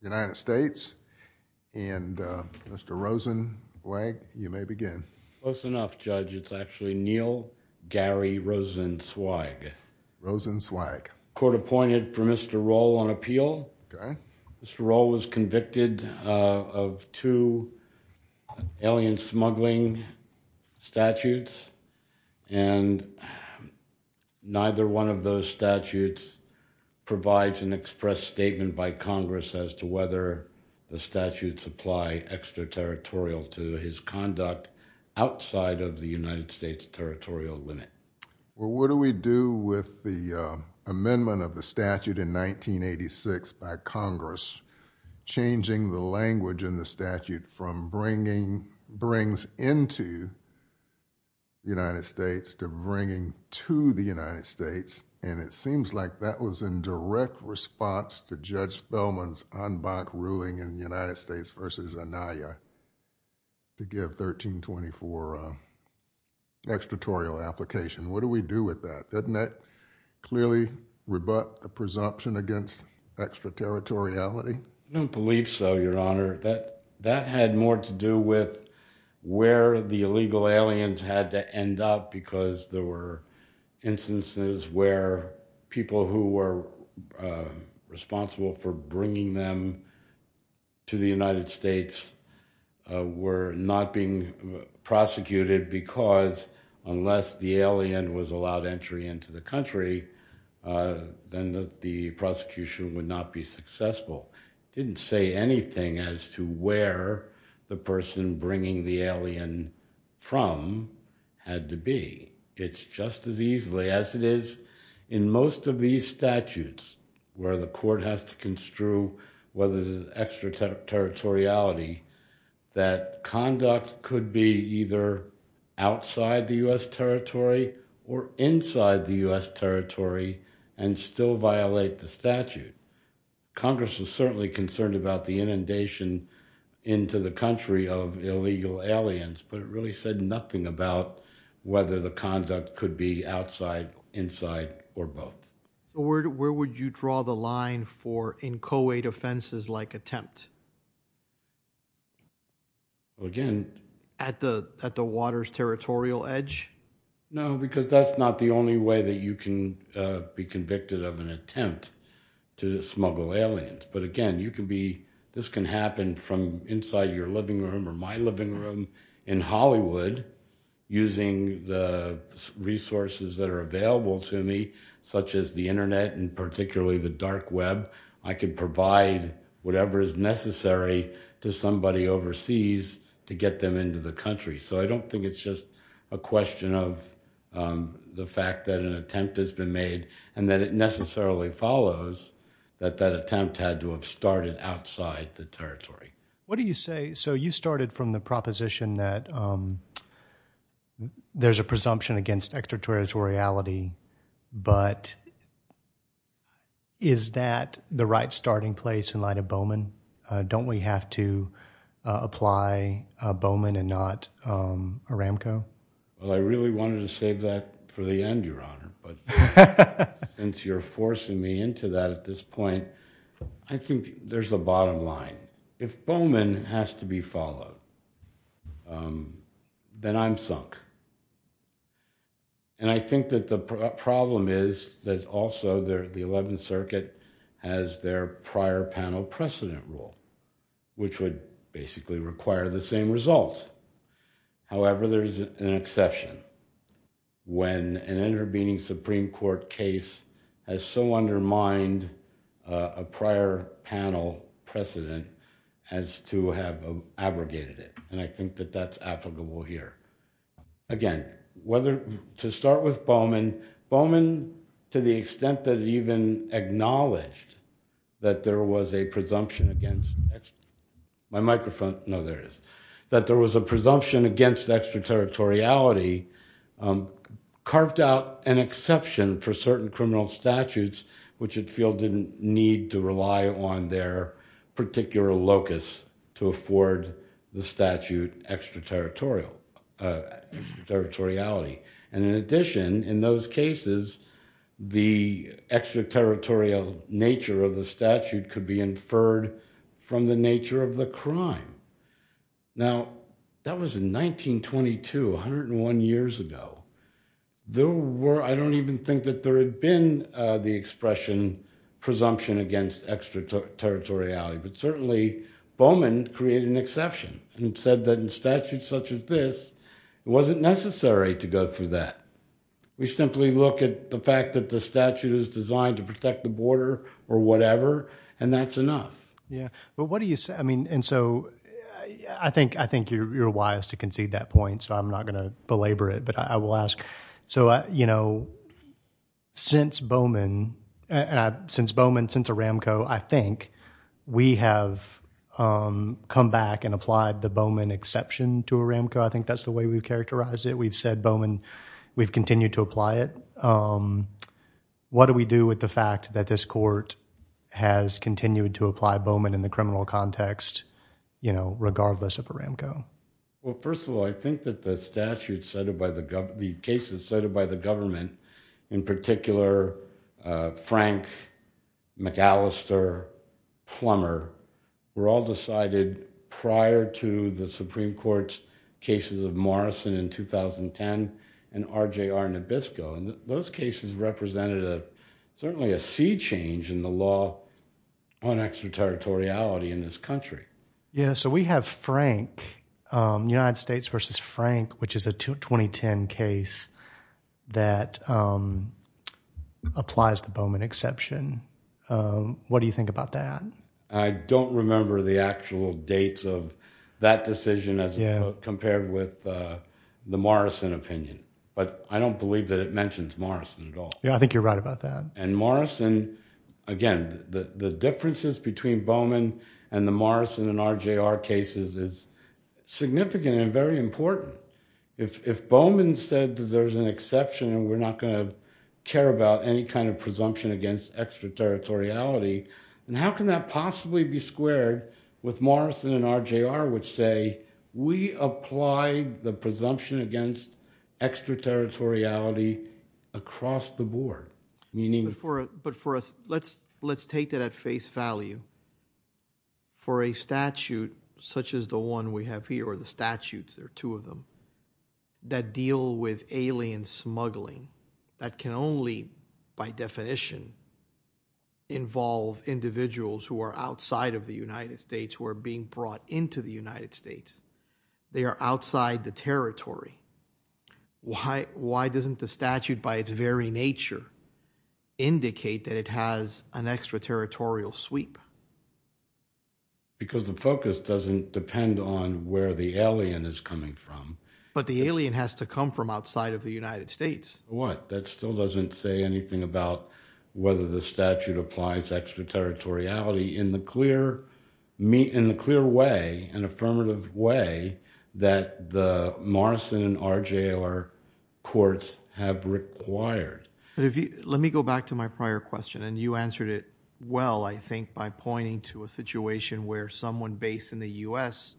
United States and Mr. Rosenblatt, you may begin. Close enough, Judge. It's actually Neil Gary Rosenzweig. Rosenzweig. Court appointed for Mr. Rolle on appeal. Mr. Rolle was convicted of two alien smuggling statutes and neither one of those statutes provides an express statement by Congress as to whether the statutes apply extraterritorial to his conduct outside of the United States territorial limit. Well, what do we do with the amendment of the statute in 1986 by Congress changing the language in the statute from bringing brings into the United States to the United States? And it seems like that was in direct response to Judge Spellman's en banc ruling in the United States v. Anaya to give 1324 extraterritorial application. What do we do with that? Doesn't that clearly rebut the presumption against extraterritoriality? I don't believe so, Your Honor. That had more to do with where the illegal aliens had to end up because there were instances where people who were responsible for bringing them to the United States were not being prosecuted because unless the alien was allowed entry into the country, then the prosecution would not be successful. It didn't say anything as to where the person bringing the alien from had to be. It's just as easily as it is in most of these statutes where the court has to construe whether there's extraterritoriality that conduct could be either outside the U.S. territory or inside the U.S. territory and still violate the statute. Congress was certainly concerned about the inundation into the country of illegal aliens, but it really said nothing about whether the conduct could be outside, inside, or both. Where would you draw the line for inchoate offenses like attempt? Again? At the water's territorial edge? No, because that's not the only way that you can be convicted of an attempt to smuggle aliens. But again, this can happen from inside your living room or my living room in Hollywood using the resources that are available to me, such as the internet and particularly the dark web. I can provide whatever is necessary to somebody overseas to get them into the country. So, I don't think it's just a question of the fact that an attempt has been made and that it necessarily follows that that attempt had to have started outside the territory. What do you say, so you started from the proposition that there's a presumption against extraterritoriality, but is that the right starting place in light of Bowman and not Aramco? Well, I really wanted to save that for the end, Your Honor, but since you're forcing me into that at this point, I think there's a bottom line. If Bowman has to be followed, then I'm sunk. And I think that the problem is that also the precedent rule, which would basically require the same result. However, there is an exception when an intervening Supreme Court case has so undermined a prior panel precedent as to have abrogated it. And I think that that's applicable here. Again, whether to start with Bowman, Bowman, to the extent that it even acknowledged that there was a presumption against extraterritoriality, carved out an exception for certain criminal statutes, which it feels didn't need to rely on their particular locus to afford the statute extraterritorial. Extraterritoriality. And in addition, in those cases, the extraterritorial nature of the statute could be inferred from the nature of the crime. Now, that was in 1922, 101 years ago. There were, I don't even think that there had been the expression presumption against extraterritoriality, but certainly Bowman created an exception and said that in statutes such as it wasn't necessary to go through that. We simply look at the fact that the statute is designed to protect the border or whatever, and that's enough. Yeah, but what do you say? I mean, and so I think you're wise to concede that point, so I'm not going to belabor it, but I will ask. So, you know, since Bowman, since Aramco, I think we have come back and applied the Bowman exception to Aramco. I think that's the way we've characterized it. We've said Bowman, we've continued to apply it. What do we do with the fact that this court has continued to apply Bowman in the criminal context, you know, regardless of Aramco? Well, first of all, I think that the statute cited by the government, the cases cited by the Supreme Court, cases of Morrison in 2010 and RJR Nabisco, and those cases represented a certainly a sea change in the law on extraterritoriality in this country. Yeah, so we have Frank, United States versus Frank, which is a 2010 case that applies the Bowman exception. What do you think about that? I don't remember the actual dates of that decision as compared with the Morrison opinion, but I don't believe that it mentions Morrison at all. Yeah, I think you're right about that. And Morrison, again, the differences between Bowman and the Morrison and RJR cases is significant and very important. If Bowman said that there's an exception and we're not going to any kind of presumption against extraterritoriality, then how can that possibly be squared with Morrison and RJR, which say, we apply the presumption against extraterritoriality across the board? But for us, let's take that at face value. For a statute such as the one we have here, the statutes, there are two of them, that deal with alien smuggling, that can only, by definition, involve individuals who are outside of the United States, who are being brought into the United States. They are outside the territory. Why doesn't the statute, by its very nature, indicate that it has an extraterritorial sweep? Because the focus doesn't depend on where the alien is coming from. But the alien has to come from outside of the United States. What? That still doesn't say anything about whether the statute applies extraterritoriality in the clear way, an affirmative way, that the Morrison and RJR courts have required. Let me go back to my prior question. And you answered it by pointing to a situation where someone based in the U.S.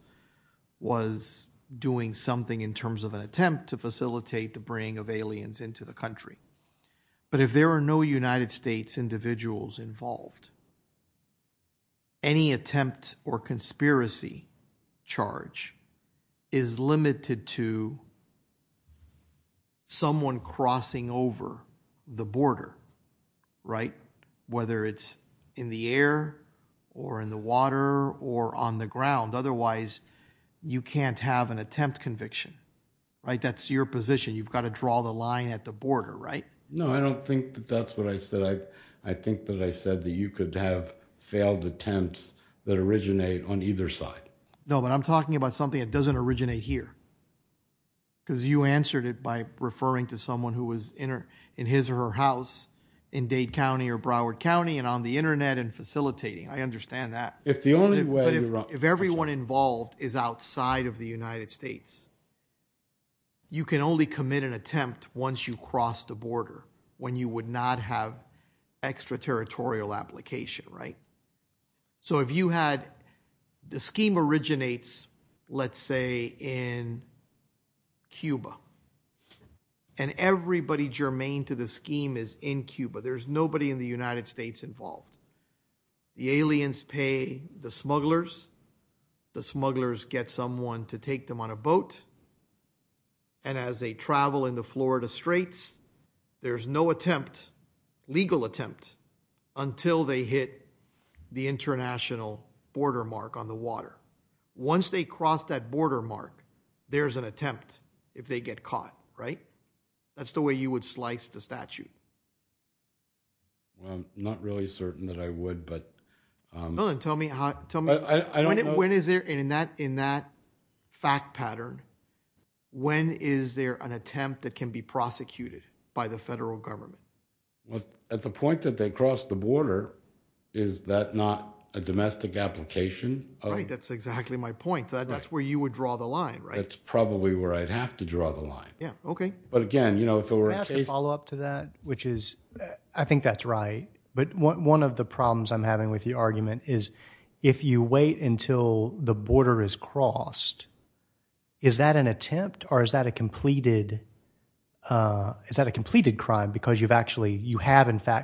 was doing something in terms of an attempt to facilitate the bringing of aliens into the country. But if there are no United States individuals involved, any attempt or conspiracy charge is limited to someone crossing over the border, right? Whether it's in the air or in the water or on the ground. Otherwise, you can't have an attempt conviction, right? That's your position. You've got to draw the line at the border, right? No, I don't think that that's what I said. I think that I said that you could have failed attempts that originate on either side. No, but I'm talking about something that doesn't originate here. Because you answered it by referring to someone who was in her in his or her house in Dade County or Broward County and on the Internet and facilitating. I understand that. If the only way if everyone involved is outside of the United States, you can only commit an attempt once you cross the border when you would not have extraterritorial application, right? So if you had the scheme originates, let's say, in Cuba, and everybody germane to the scheme is in Cuba, there's nobody in the United States involved. The aliens pay the smugglers, the smugglers get someone to take them on a boat. And as they travel in the Florida Straits, there's no attempt, legal attempt, until they hit the international border mark on the water. Once they cross that border mark, there's an attempt if they get caught, right? That's the way you would slice the statute. Well, I'm not really certain that I would, but tell me, tell me, I don't know when is there in that in that fact pattern? When is there an attempt that can be prosecuted by the federal government? Well, at the point that they cross the border, is that not a domestic application? Right, that's exactly my point. That's where you would draw the line, right? That's probably where I'd have to draw the line. Yeah, okay. But again, you know, if it were a follow up to that, which is, I think that's right. But one of the problems I'm having with the argument is, if you wait until the border is you have in fact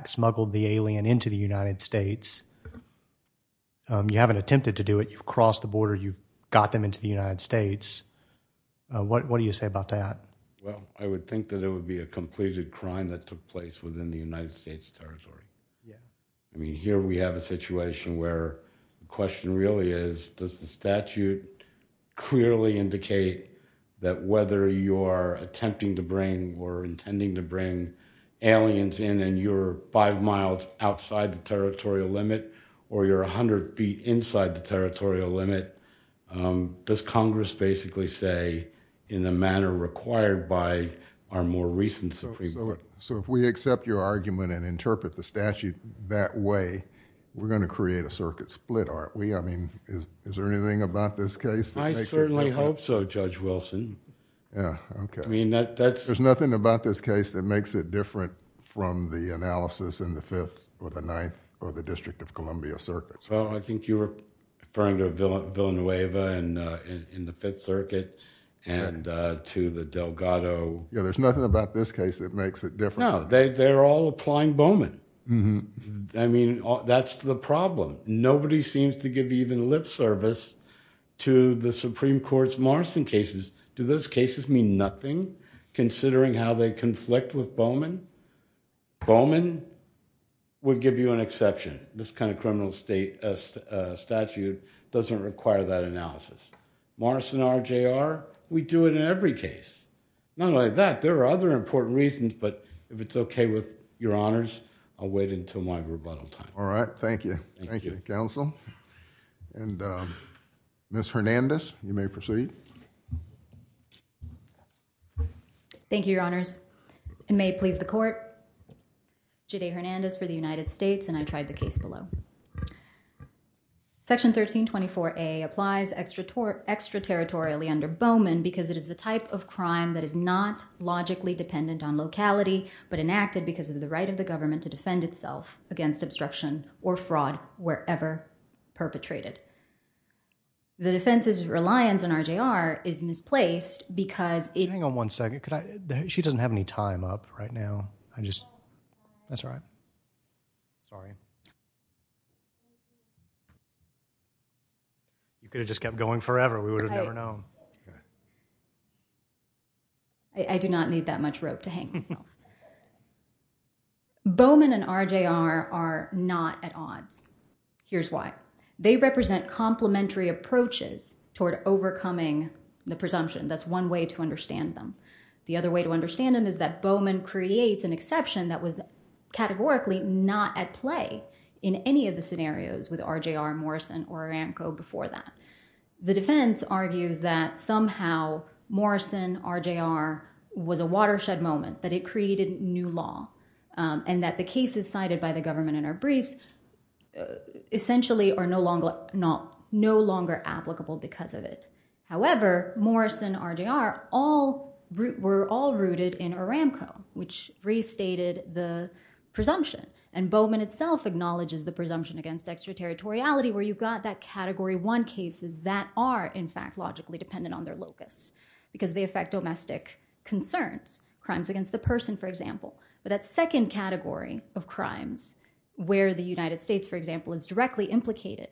smuggled the alien into the United States, you haven't attempted to do it, you've crossed the border, you've got them into the United States. What do you say about that? Well, I would think that it would be a completed crime that took place within the United States territory. I mean, here we have a situation where the question really is, does the statute clearly indicate that whether you're attempting to bring or intending to bring aliens in and you're five miles outside the territorial limit, or you're 100 feet inside the territorial limit? Does Congress basically say, in a manner required by our more recent Supreme Court? So if we accept your argument and interpret the statute that way, we're going to create a split, aren't we? I mean, is there anything about this case? I certainly hope so, Judge Wilson. Yeah, okay. I mean, that's... There's nothing about this case that makes it different from the analysis in the Fifth or the Ninth or the District of Columbia circuits. Well, I think you were referring to Villanueva in the Fifth Circuit and to the Delgado... Yeah, there's nothing about this case that makes it different. No, they're all applying Bowman. I mean, that's the problem. Nobody seems to give even lip service to the Supreme Court's Morrison cases. Do those cases mean nothing, considering how they conflict with Bowman? Bowman would give you an exception. This kind of criminal statute doesn't require that analysis. Morrison, RJR, we do it in every case. Not only that, there are other important reasons, but if it's okay with your honors, I'll wait until my rebuttal time. All right. Thank you. Thank you, Counsel. And Ms. Hernandez, you may proceed. Thank you, your honors. It may please the court. Jadae Hernandez for the United States, and I tried the case below. Section 1324A applies extraterritorially under Bowman because it is the type of crime that is not logically dependent on locality, but enacted because of the right of the government to defend itself against obstruction or fraud wherever perpetrated. The defense's reliance on RJR is misplaced because it- Hang on one second. She doesn't have any time up right now. I just- That's all right. Sorry. You could have just kept going forever. We would have never known. I do not need that much rope to hang myself. Bowman and RJR are not at odds. Here's why. They represent complementary approaches toward overcoming the presumption. That's one way to understand them. The other way to understand them is that Bowman creates an exception that was categorically not at play in any of the scenarios with RJR, Morrison, or Aramco before that. The defense argues that somehow Morrison-RJR was a watershed moment, that it created new law, and that the cases cited by the government in our briefs essentially are no longer applicable because of it. However, Morrison-RJR were all rooted in Aramco, which restated the presumption. Bowman itself acknowledges the presumption against extraterritoriality, where you've got that category one cases that are, in fact, logically dependent on their locus, because they affect domestic concerns. Crimes against the person, for example. But that second category of crimes, where the United States, for example, is directly implicated,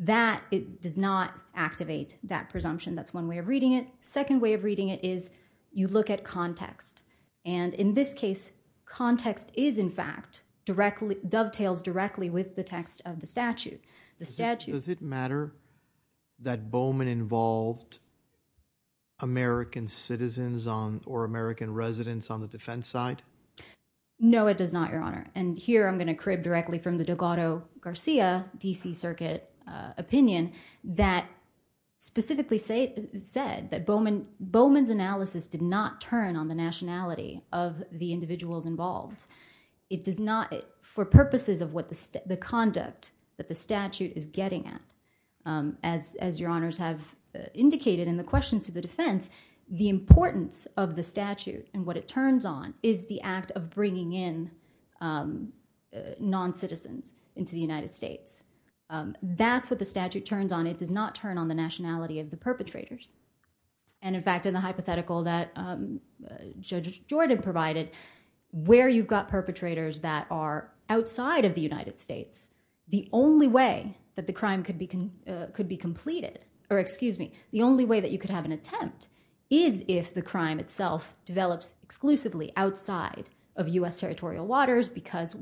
that does not activate that presumption. That's one way of reading it. Second way of reading it is you look at context. And in this case, context is, in fact, dovetails directly with the text of the statute. Does it matter that Bowman involved American citizens or American residents on the defense side? No, it does not, Your Honor. And here, I'm going to crib directly from the Delgado-Garcia DC Circuit opinion that specifically said that Bowman's analysis did not turn on the nationality of the individuals involved. It does not, for purposes of what the conduct that the statute is getting at, as Your Honors have indicated in the questions to the defense, the importance of the statute and what it turns on is the act of bringing in non-citizens into the United States. That's what the statute turns on. It does not turn on the nationality of the perpetrators. And in fact, in the hypothetical that Judge Jordan provided, where you've got perpetrators that are outside of the United States, the only way that the crime could be completed, or excuse me, the only way that you could have an attempt is if the crime itself develops exclusively outside of US territorial waters because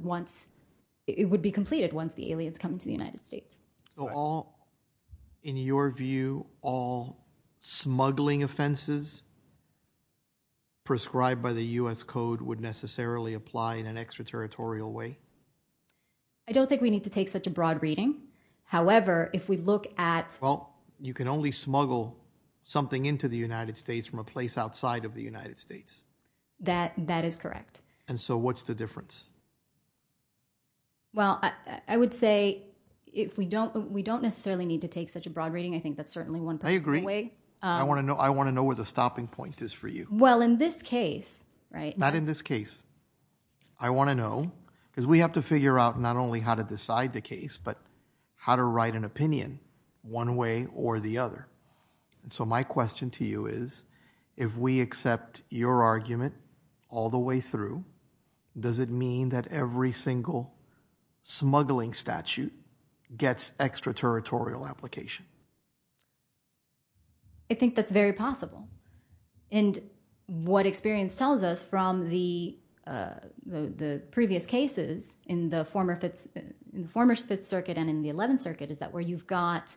it would be completed once the aliens come to the United States. So all, in your view, all smuggling offenses prescribed by the US code would necessarily apply in an extraterritorial way? I don't think we need to take such a broad reading. However, if we look at... Well, you can only smuggle something into the United States from a place outside of the United States. That is correct. And so what's the difference? Well, I would say if we don't necessarily need to take such a broad reading, I think that's certainly one possible way. I agree. I want to know where the stopping point is for you. Well, in this case, right? Not in this case. I want to know, because we have to figure out not only how to decide the case, but how to write an opinion one way or the other. And so my question to you is, if we accept your argument all the way through, does it mean that every single smuggling statute gets extraterritorial application? I think that's very possible. And what experience tells us from the previous cases in the former Fifth Circuit and in the Eleventh Circuit is that where you've got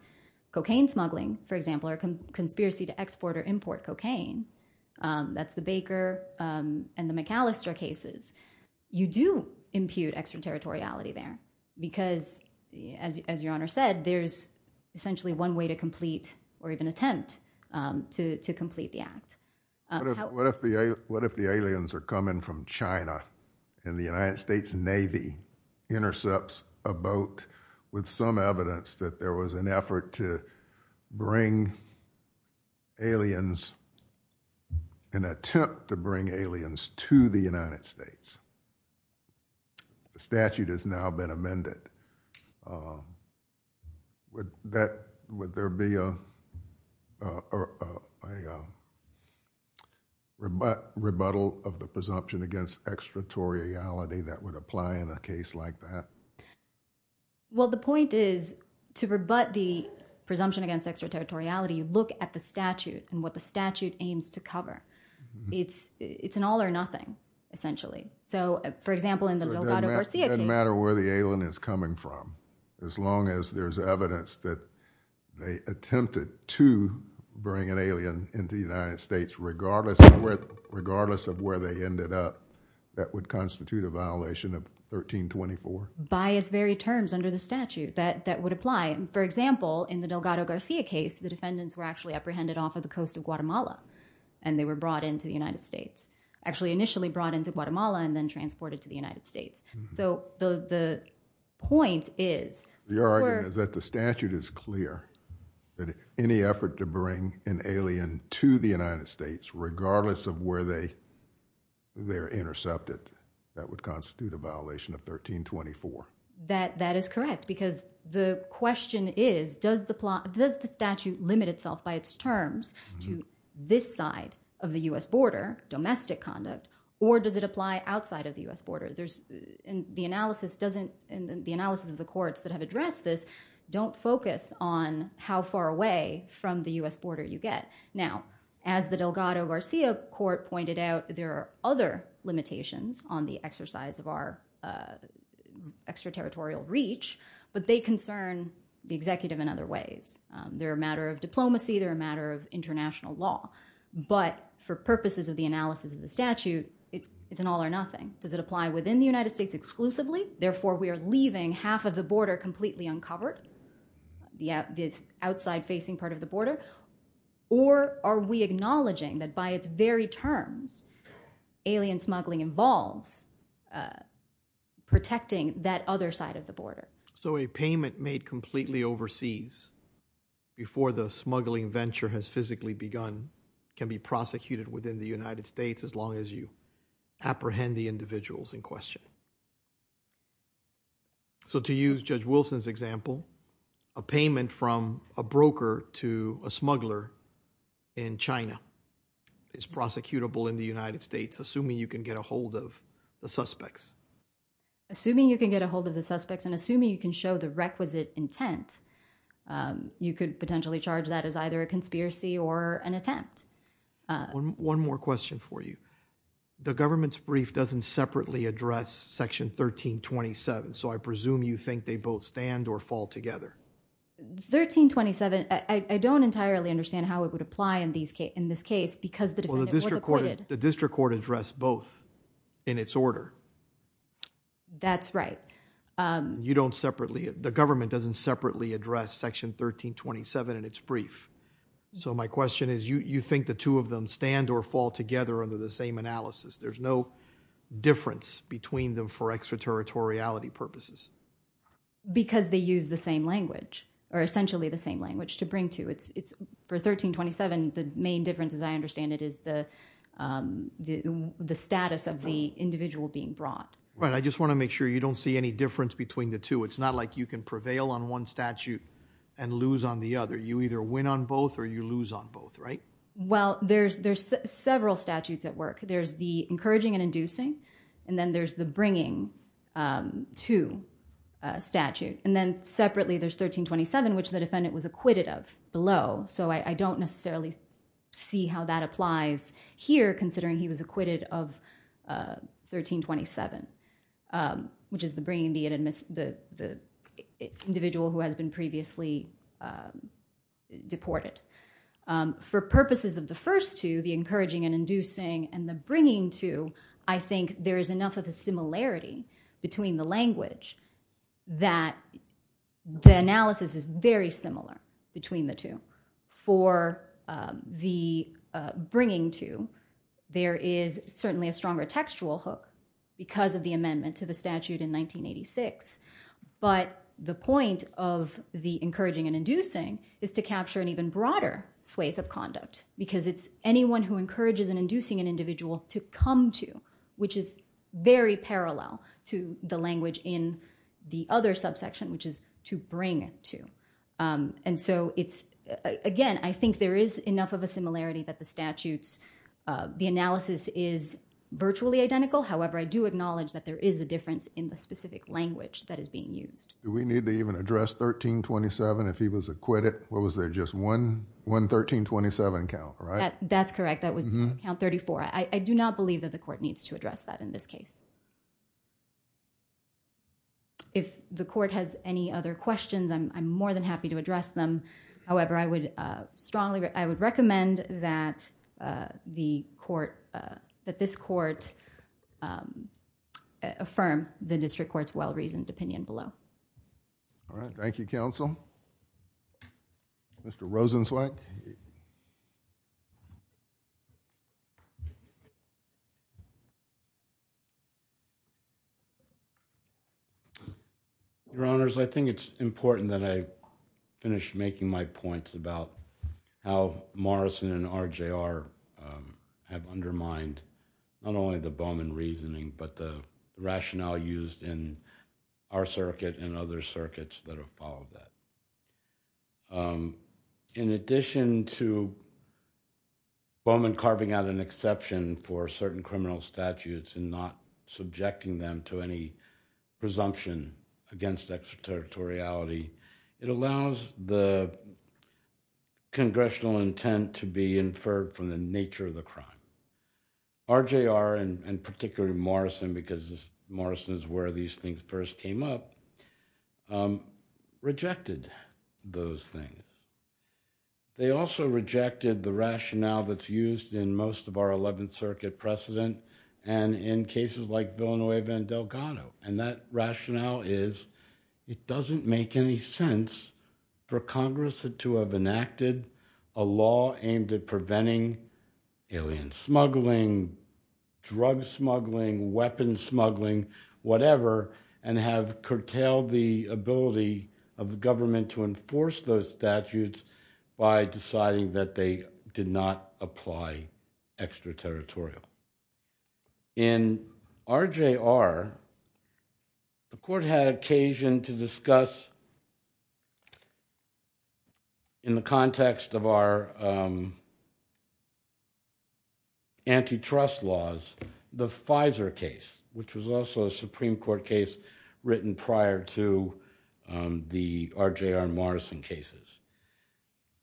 cocaine smuggling, for example, or conspiracy to export or import cocaine, that's the Baker and the McAllister cases. You do impute extraterritoriality there because, as your Honor said, there's essentially one way to complete or even attempt to complete the act. What if the aliens are coming from China and the United States Navy intercepts a boat with some evidence that there was an effort to bring aliens, an attempt to bring aliens to the United States? The statute has now been amended. Would there be a rebuttal of the presumption against extraterritoriality that would apply in a case like that? Well, the point is to rebut the presumption against extraterritoriality, you look at the statute and what the statute aims to cover. It's an all or nothing, essentially. So, for example, in the Delgado-Garcia case— It doesn't matter where the alien is coming from, as long as there's evidence that they attempted to bring an alien into the United States, regardless of where they ended up, that would constitute a violation of 1324? By its very terms under the statute, that would apply. For example, in the Delgado-Garcia case, the defendants were actually apprehended off of the coast of Guatemala, and they were brought into the United States. Actually, initially brought into Guatemala and then transported to the United States. So, the point is— The argument is that the statute is clear, that any effort to bring an alien to the United States, regardless of where they're intercepted, that would constitute a violation of 1324. That is correct, because the question is, does the statute limit itself by its terms? To this side of the U.S. border, domestic conduct, or does it apply outside of the U.S. border? And the analysis of the courts that have addressed this don't focus on how far away from the U.S. border you get. Now, as the Delgado-Garcia court pointed out, there are other limitations on the exercise of our extraterritorial reach, but they concern the executive in other ways. They're a matter of diplomacy, they're a matter of international law, but for purposes of the analysis of the statute, it's an all or nothing. Does it apply within the United States exclusively? Therefore, we are leaving half of the border completely uncovered, the outside-facing part of the border, or are we acknowledging that by its very terms, alien smuggling involves protecting that other side of the border? So a payment made completely overseas before the smuggling venture has physically begun can be prosecuted within the United States as long as you apprehend the individuals in question. So to use Judge Wilson's example, a payment from a broker to a smuggler in China is prosecutable in the United States, assuming you can get a hold of the suspects. Assuming you can get a hold of the suspects and assuming you can show the requisite intent, you could potentially charge that as either a conspiracy or an attempt. One more question for you. The government's brief doesn't separately address section 1327, so I presume you think they both stand or fall together. 1327, I don't entirely understand how it would apply in this case because the defendant was acquitted. The district court addressed both in its order. That's right. The government doesn't separately address section 1327 in its brief, so my question is you think the two of them stand or fall together under the same analysis. There's no difference between them for extraterritoriality purposes. Because they use the same language, or essentially the same language to bring to. For 1327, the main difference, as I understand it, is the status of the individual being brought. Right. I just want to make sure you don't see any difference between the two. It's not like you can prevail on one statute and lose on the other. You either win on both or you lose on both, right? Well, there's several statutes at work. There's the encouraging and inducing, and then there's the bringing to statute. And then separately, there's 1327, which the defendant was acquitted of. So I don't necessarily see how that applies here, considering he was acquitted of 1327, which is the individual who has been previously deported. For purposes of the first two, the encouraging and inducing, and the bringing to, I think there is enough of a similarity between the language that the analysis is very similar between the two. For the bringing to, there is certainly a stronger textual hook because of the amendment to the statute in 1986. But the point of the encouraging and inducing is to capture an even broader swathe of conduct, because it's anyone who encourages and induces an individual to come to, which is very parallel to the language in the other subsection, which is to bring to. And so it's, again, I think there is enough of a similarity that the statutes, the analysis is virtually identical. However, I do acknowledge that there is a difference in the specific language that is being used. Do we need to even address 1327 if he was acquitted? Or was there just one 1327 count, right? That's correct. That was count 34. I do not believe that the court needs to address that in this case. If the court has any other questions, I'm more than happy to address them. However, I would strongly, I would recommend that the court, that this court affirm the district court's well-reasoned opinion below. All right. Thank you, counsel. Mr. Rosenzweig. Your honors, I think it's important that I finish making my points about how Morrison and RJR have undermined not only the Bowman reasoning, but the rationale used in our circuit and other circuits that have followed that. In addition to Bowman carving out an exception for certain criminal statutes and not subjecting them to any presumption against extraterritoriality, it allows the congressional intent to be inferred from the nature of the crime. RJR and particularly Morrison, because this Morrison is where these things first came up, rejected those things. They also rejected the rationale that's used in most of our 11th Circuit precedent and in cases like Villanova and Delgado. And that rationale is, it doesn't make any sense for Congress to have enacted a law aimed at preventing alien smuggling, drug smuggling, weapon smuggling, whatever, and have curtailed the ability of the government to enforce those statutes by deciding that they did not apply extraterritorial. In RJR, the Court had occasion to discuss, in the context of our antitrust laws, the Pfizer case, which was also a Supreme Court case written prior to the RJR and Morrison cases.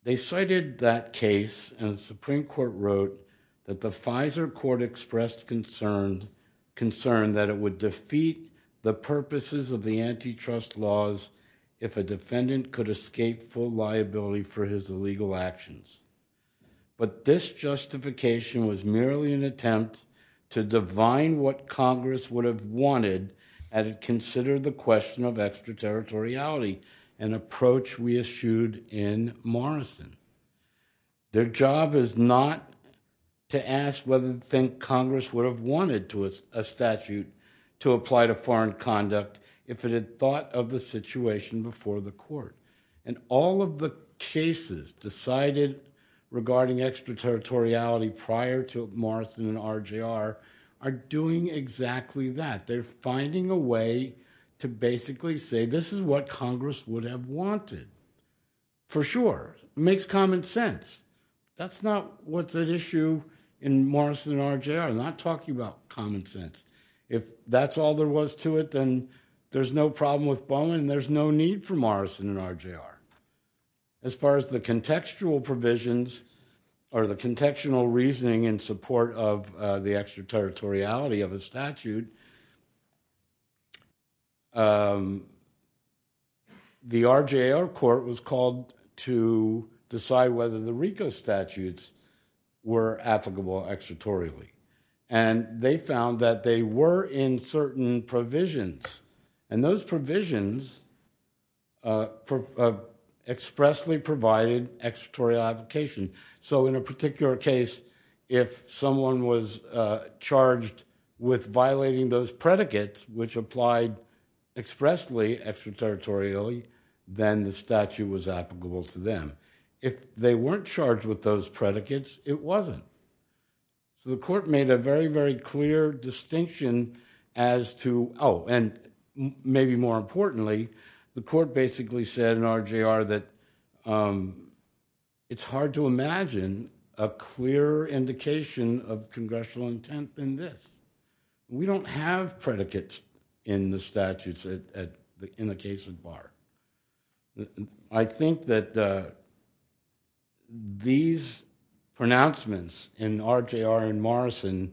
They cited that case and the Supreme Court wrote that the Pfizer Court expressed concern that it would defeat the purposes of the antitrust laws if a defendant could escape full liability for his illegal actions. But this justification was merely an attempt to divine what Congress would have wanted had it considered the question of extraterritoriality, an approach we eschewed in Morrison. Their job is not to ask whether they think Congress would have wanted a statute to apply to foreign conduct if it had thought of the situation before the Court. And all of the cases decided regarding extraterritoriality prior to Morrison and RJR are doing exactly that. They're finding a way to basically say, this is what Congress would have wanted, for sure. Makes common sense. That's not what's at issue in Morrison and RJR. I'm not talking about common sense. If that's all there was to it, then there's no problem with Boeing. There's no need for Morrison and RJR. As far as the contextual provisions or the contextual reasoning in support of the extraterritoriality of a statute, the RJR Court was called to decide whether the RICO statutes were applicable extraterritorially. And they found that they were in certain provisions. And those provisions expressly provided extraterritorial application. So in a particular case, if someone was charged with violating those predicates, which applied expressly extraterritorially, then the statute was applicable to them. If they weren't charged with those predicates, it wasn't. So the Court made a very, very clear distinction as to, oh, and maybe more importantly, the Court basically said in RJR that it's hard to imagine a clear indication of congressional intent than this. We don't have predicates in the statutes in the case of Barr. I think that these pronouncements in RJR and Morrison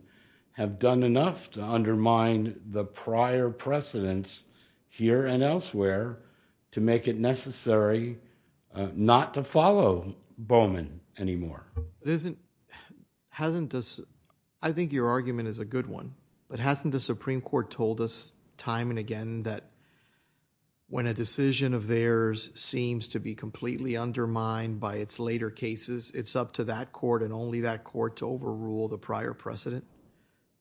have done enough to undermine the prior precedents here and elsewhere to make it necessary not to follow Bowman anymore. I think your argument is a good one, but hasn't the Supreme Court told us time and again that when a decision of theirs seems to be completely undermined by its later cases, it's up to that Court and only that Court to overrule the prior precedent,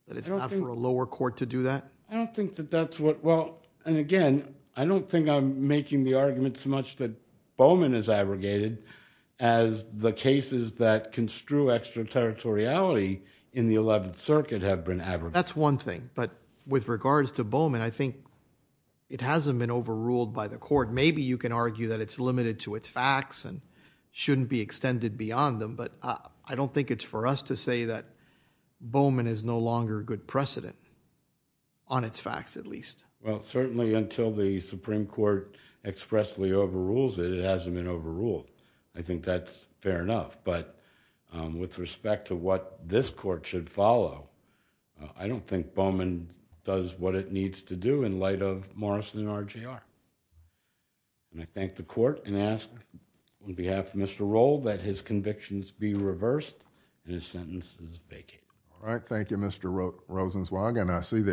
that it's not for a lower Court to do that? I don't think that that's what, well, and again, I don't think I'm making the argument so much that Bowman is abrogated as the cases that construe extraterritoriality in the 11th Circuit have been abrogated. That's one thing, but with regards to Bowman, I think it hasn't been overruled by the Court. Maybe you can argue that it's limited to its facts and shouldn't be extended beyond them, I don't think it's for us to say that Bowman is no longer a good precedent, on its facts at least. Well, certainly until the Supreme Court expressly overrules it, it hasn't been overruled. I think that's fair enough, but with respect to what this Court should follow, I don't think Bowman does what it needs to do in light of Morrison and RJR. And I thank the Court and ask on behalf of Mr. Roll that his convictions be reversed and his sentence is vacant. All right. Thank you, Mr. Rosenzweig, and I see that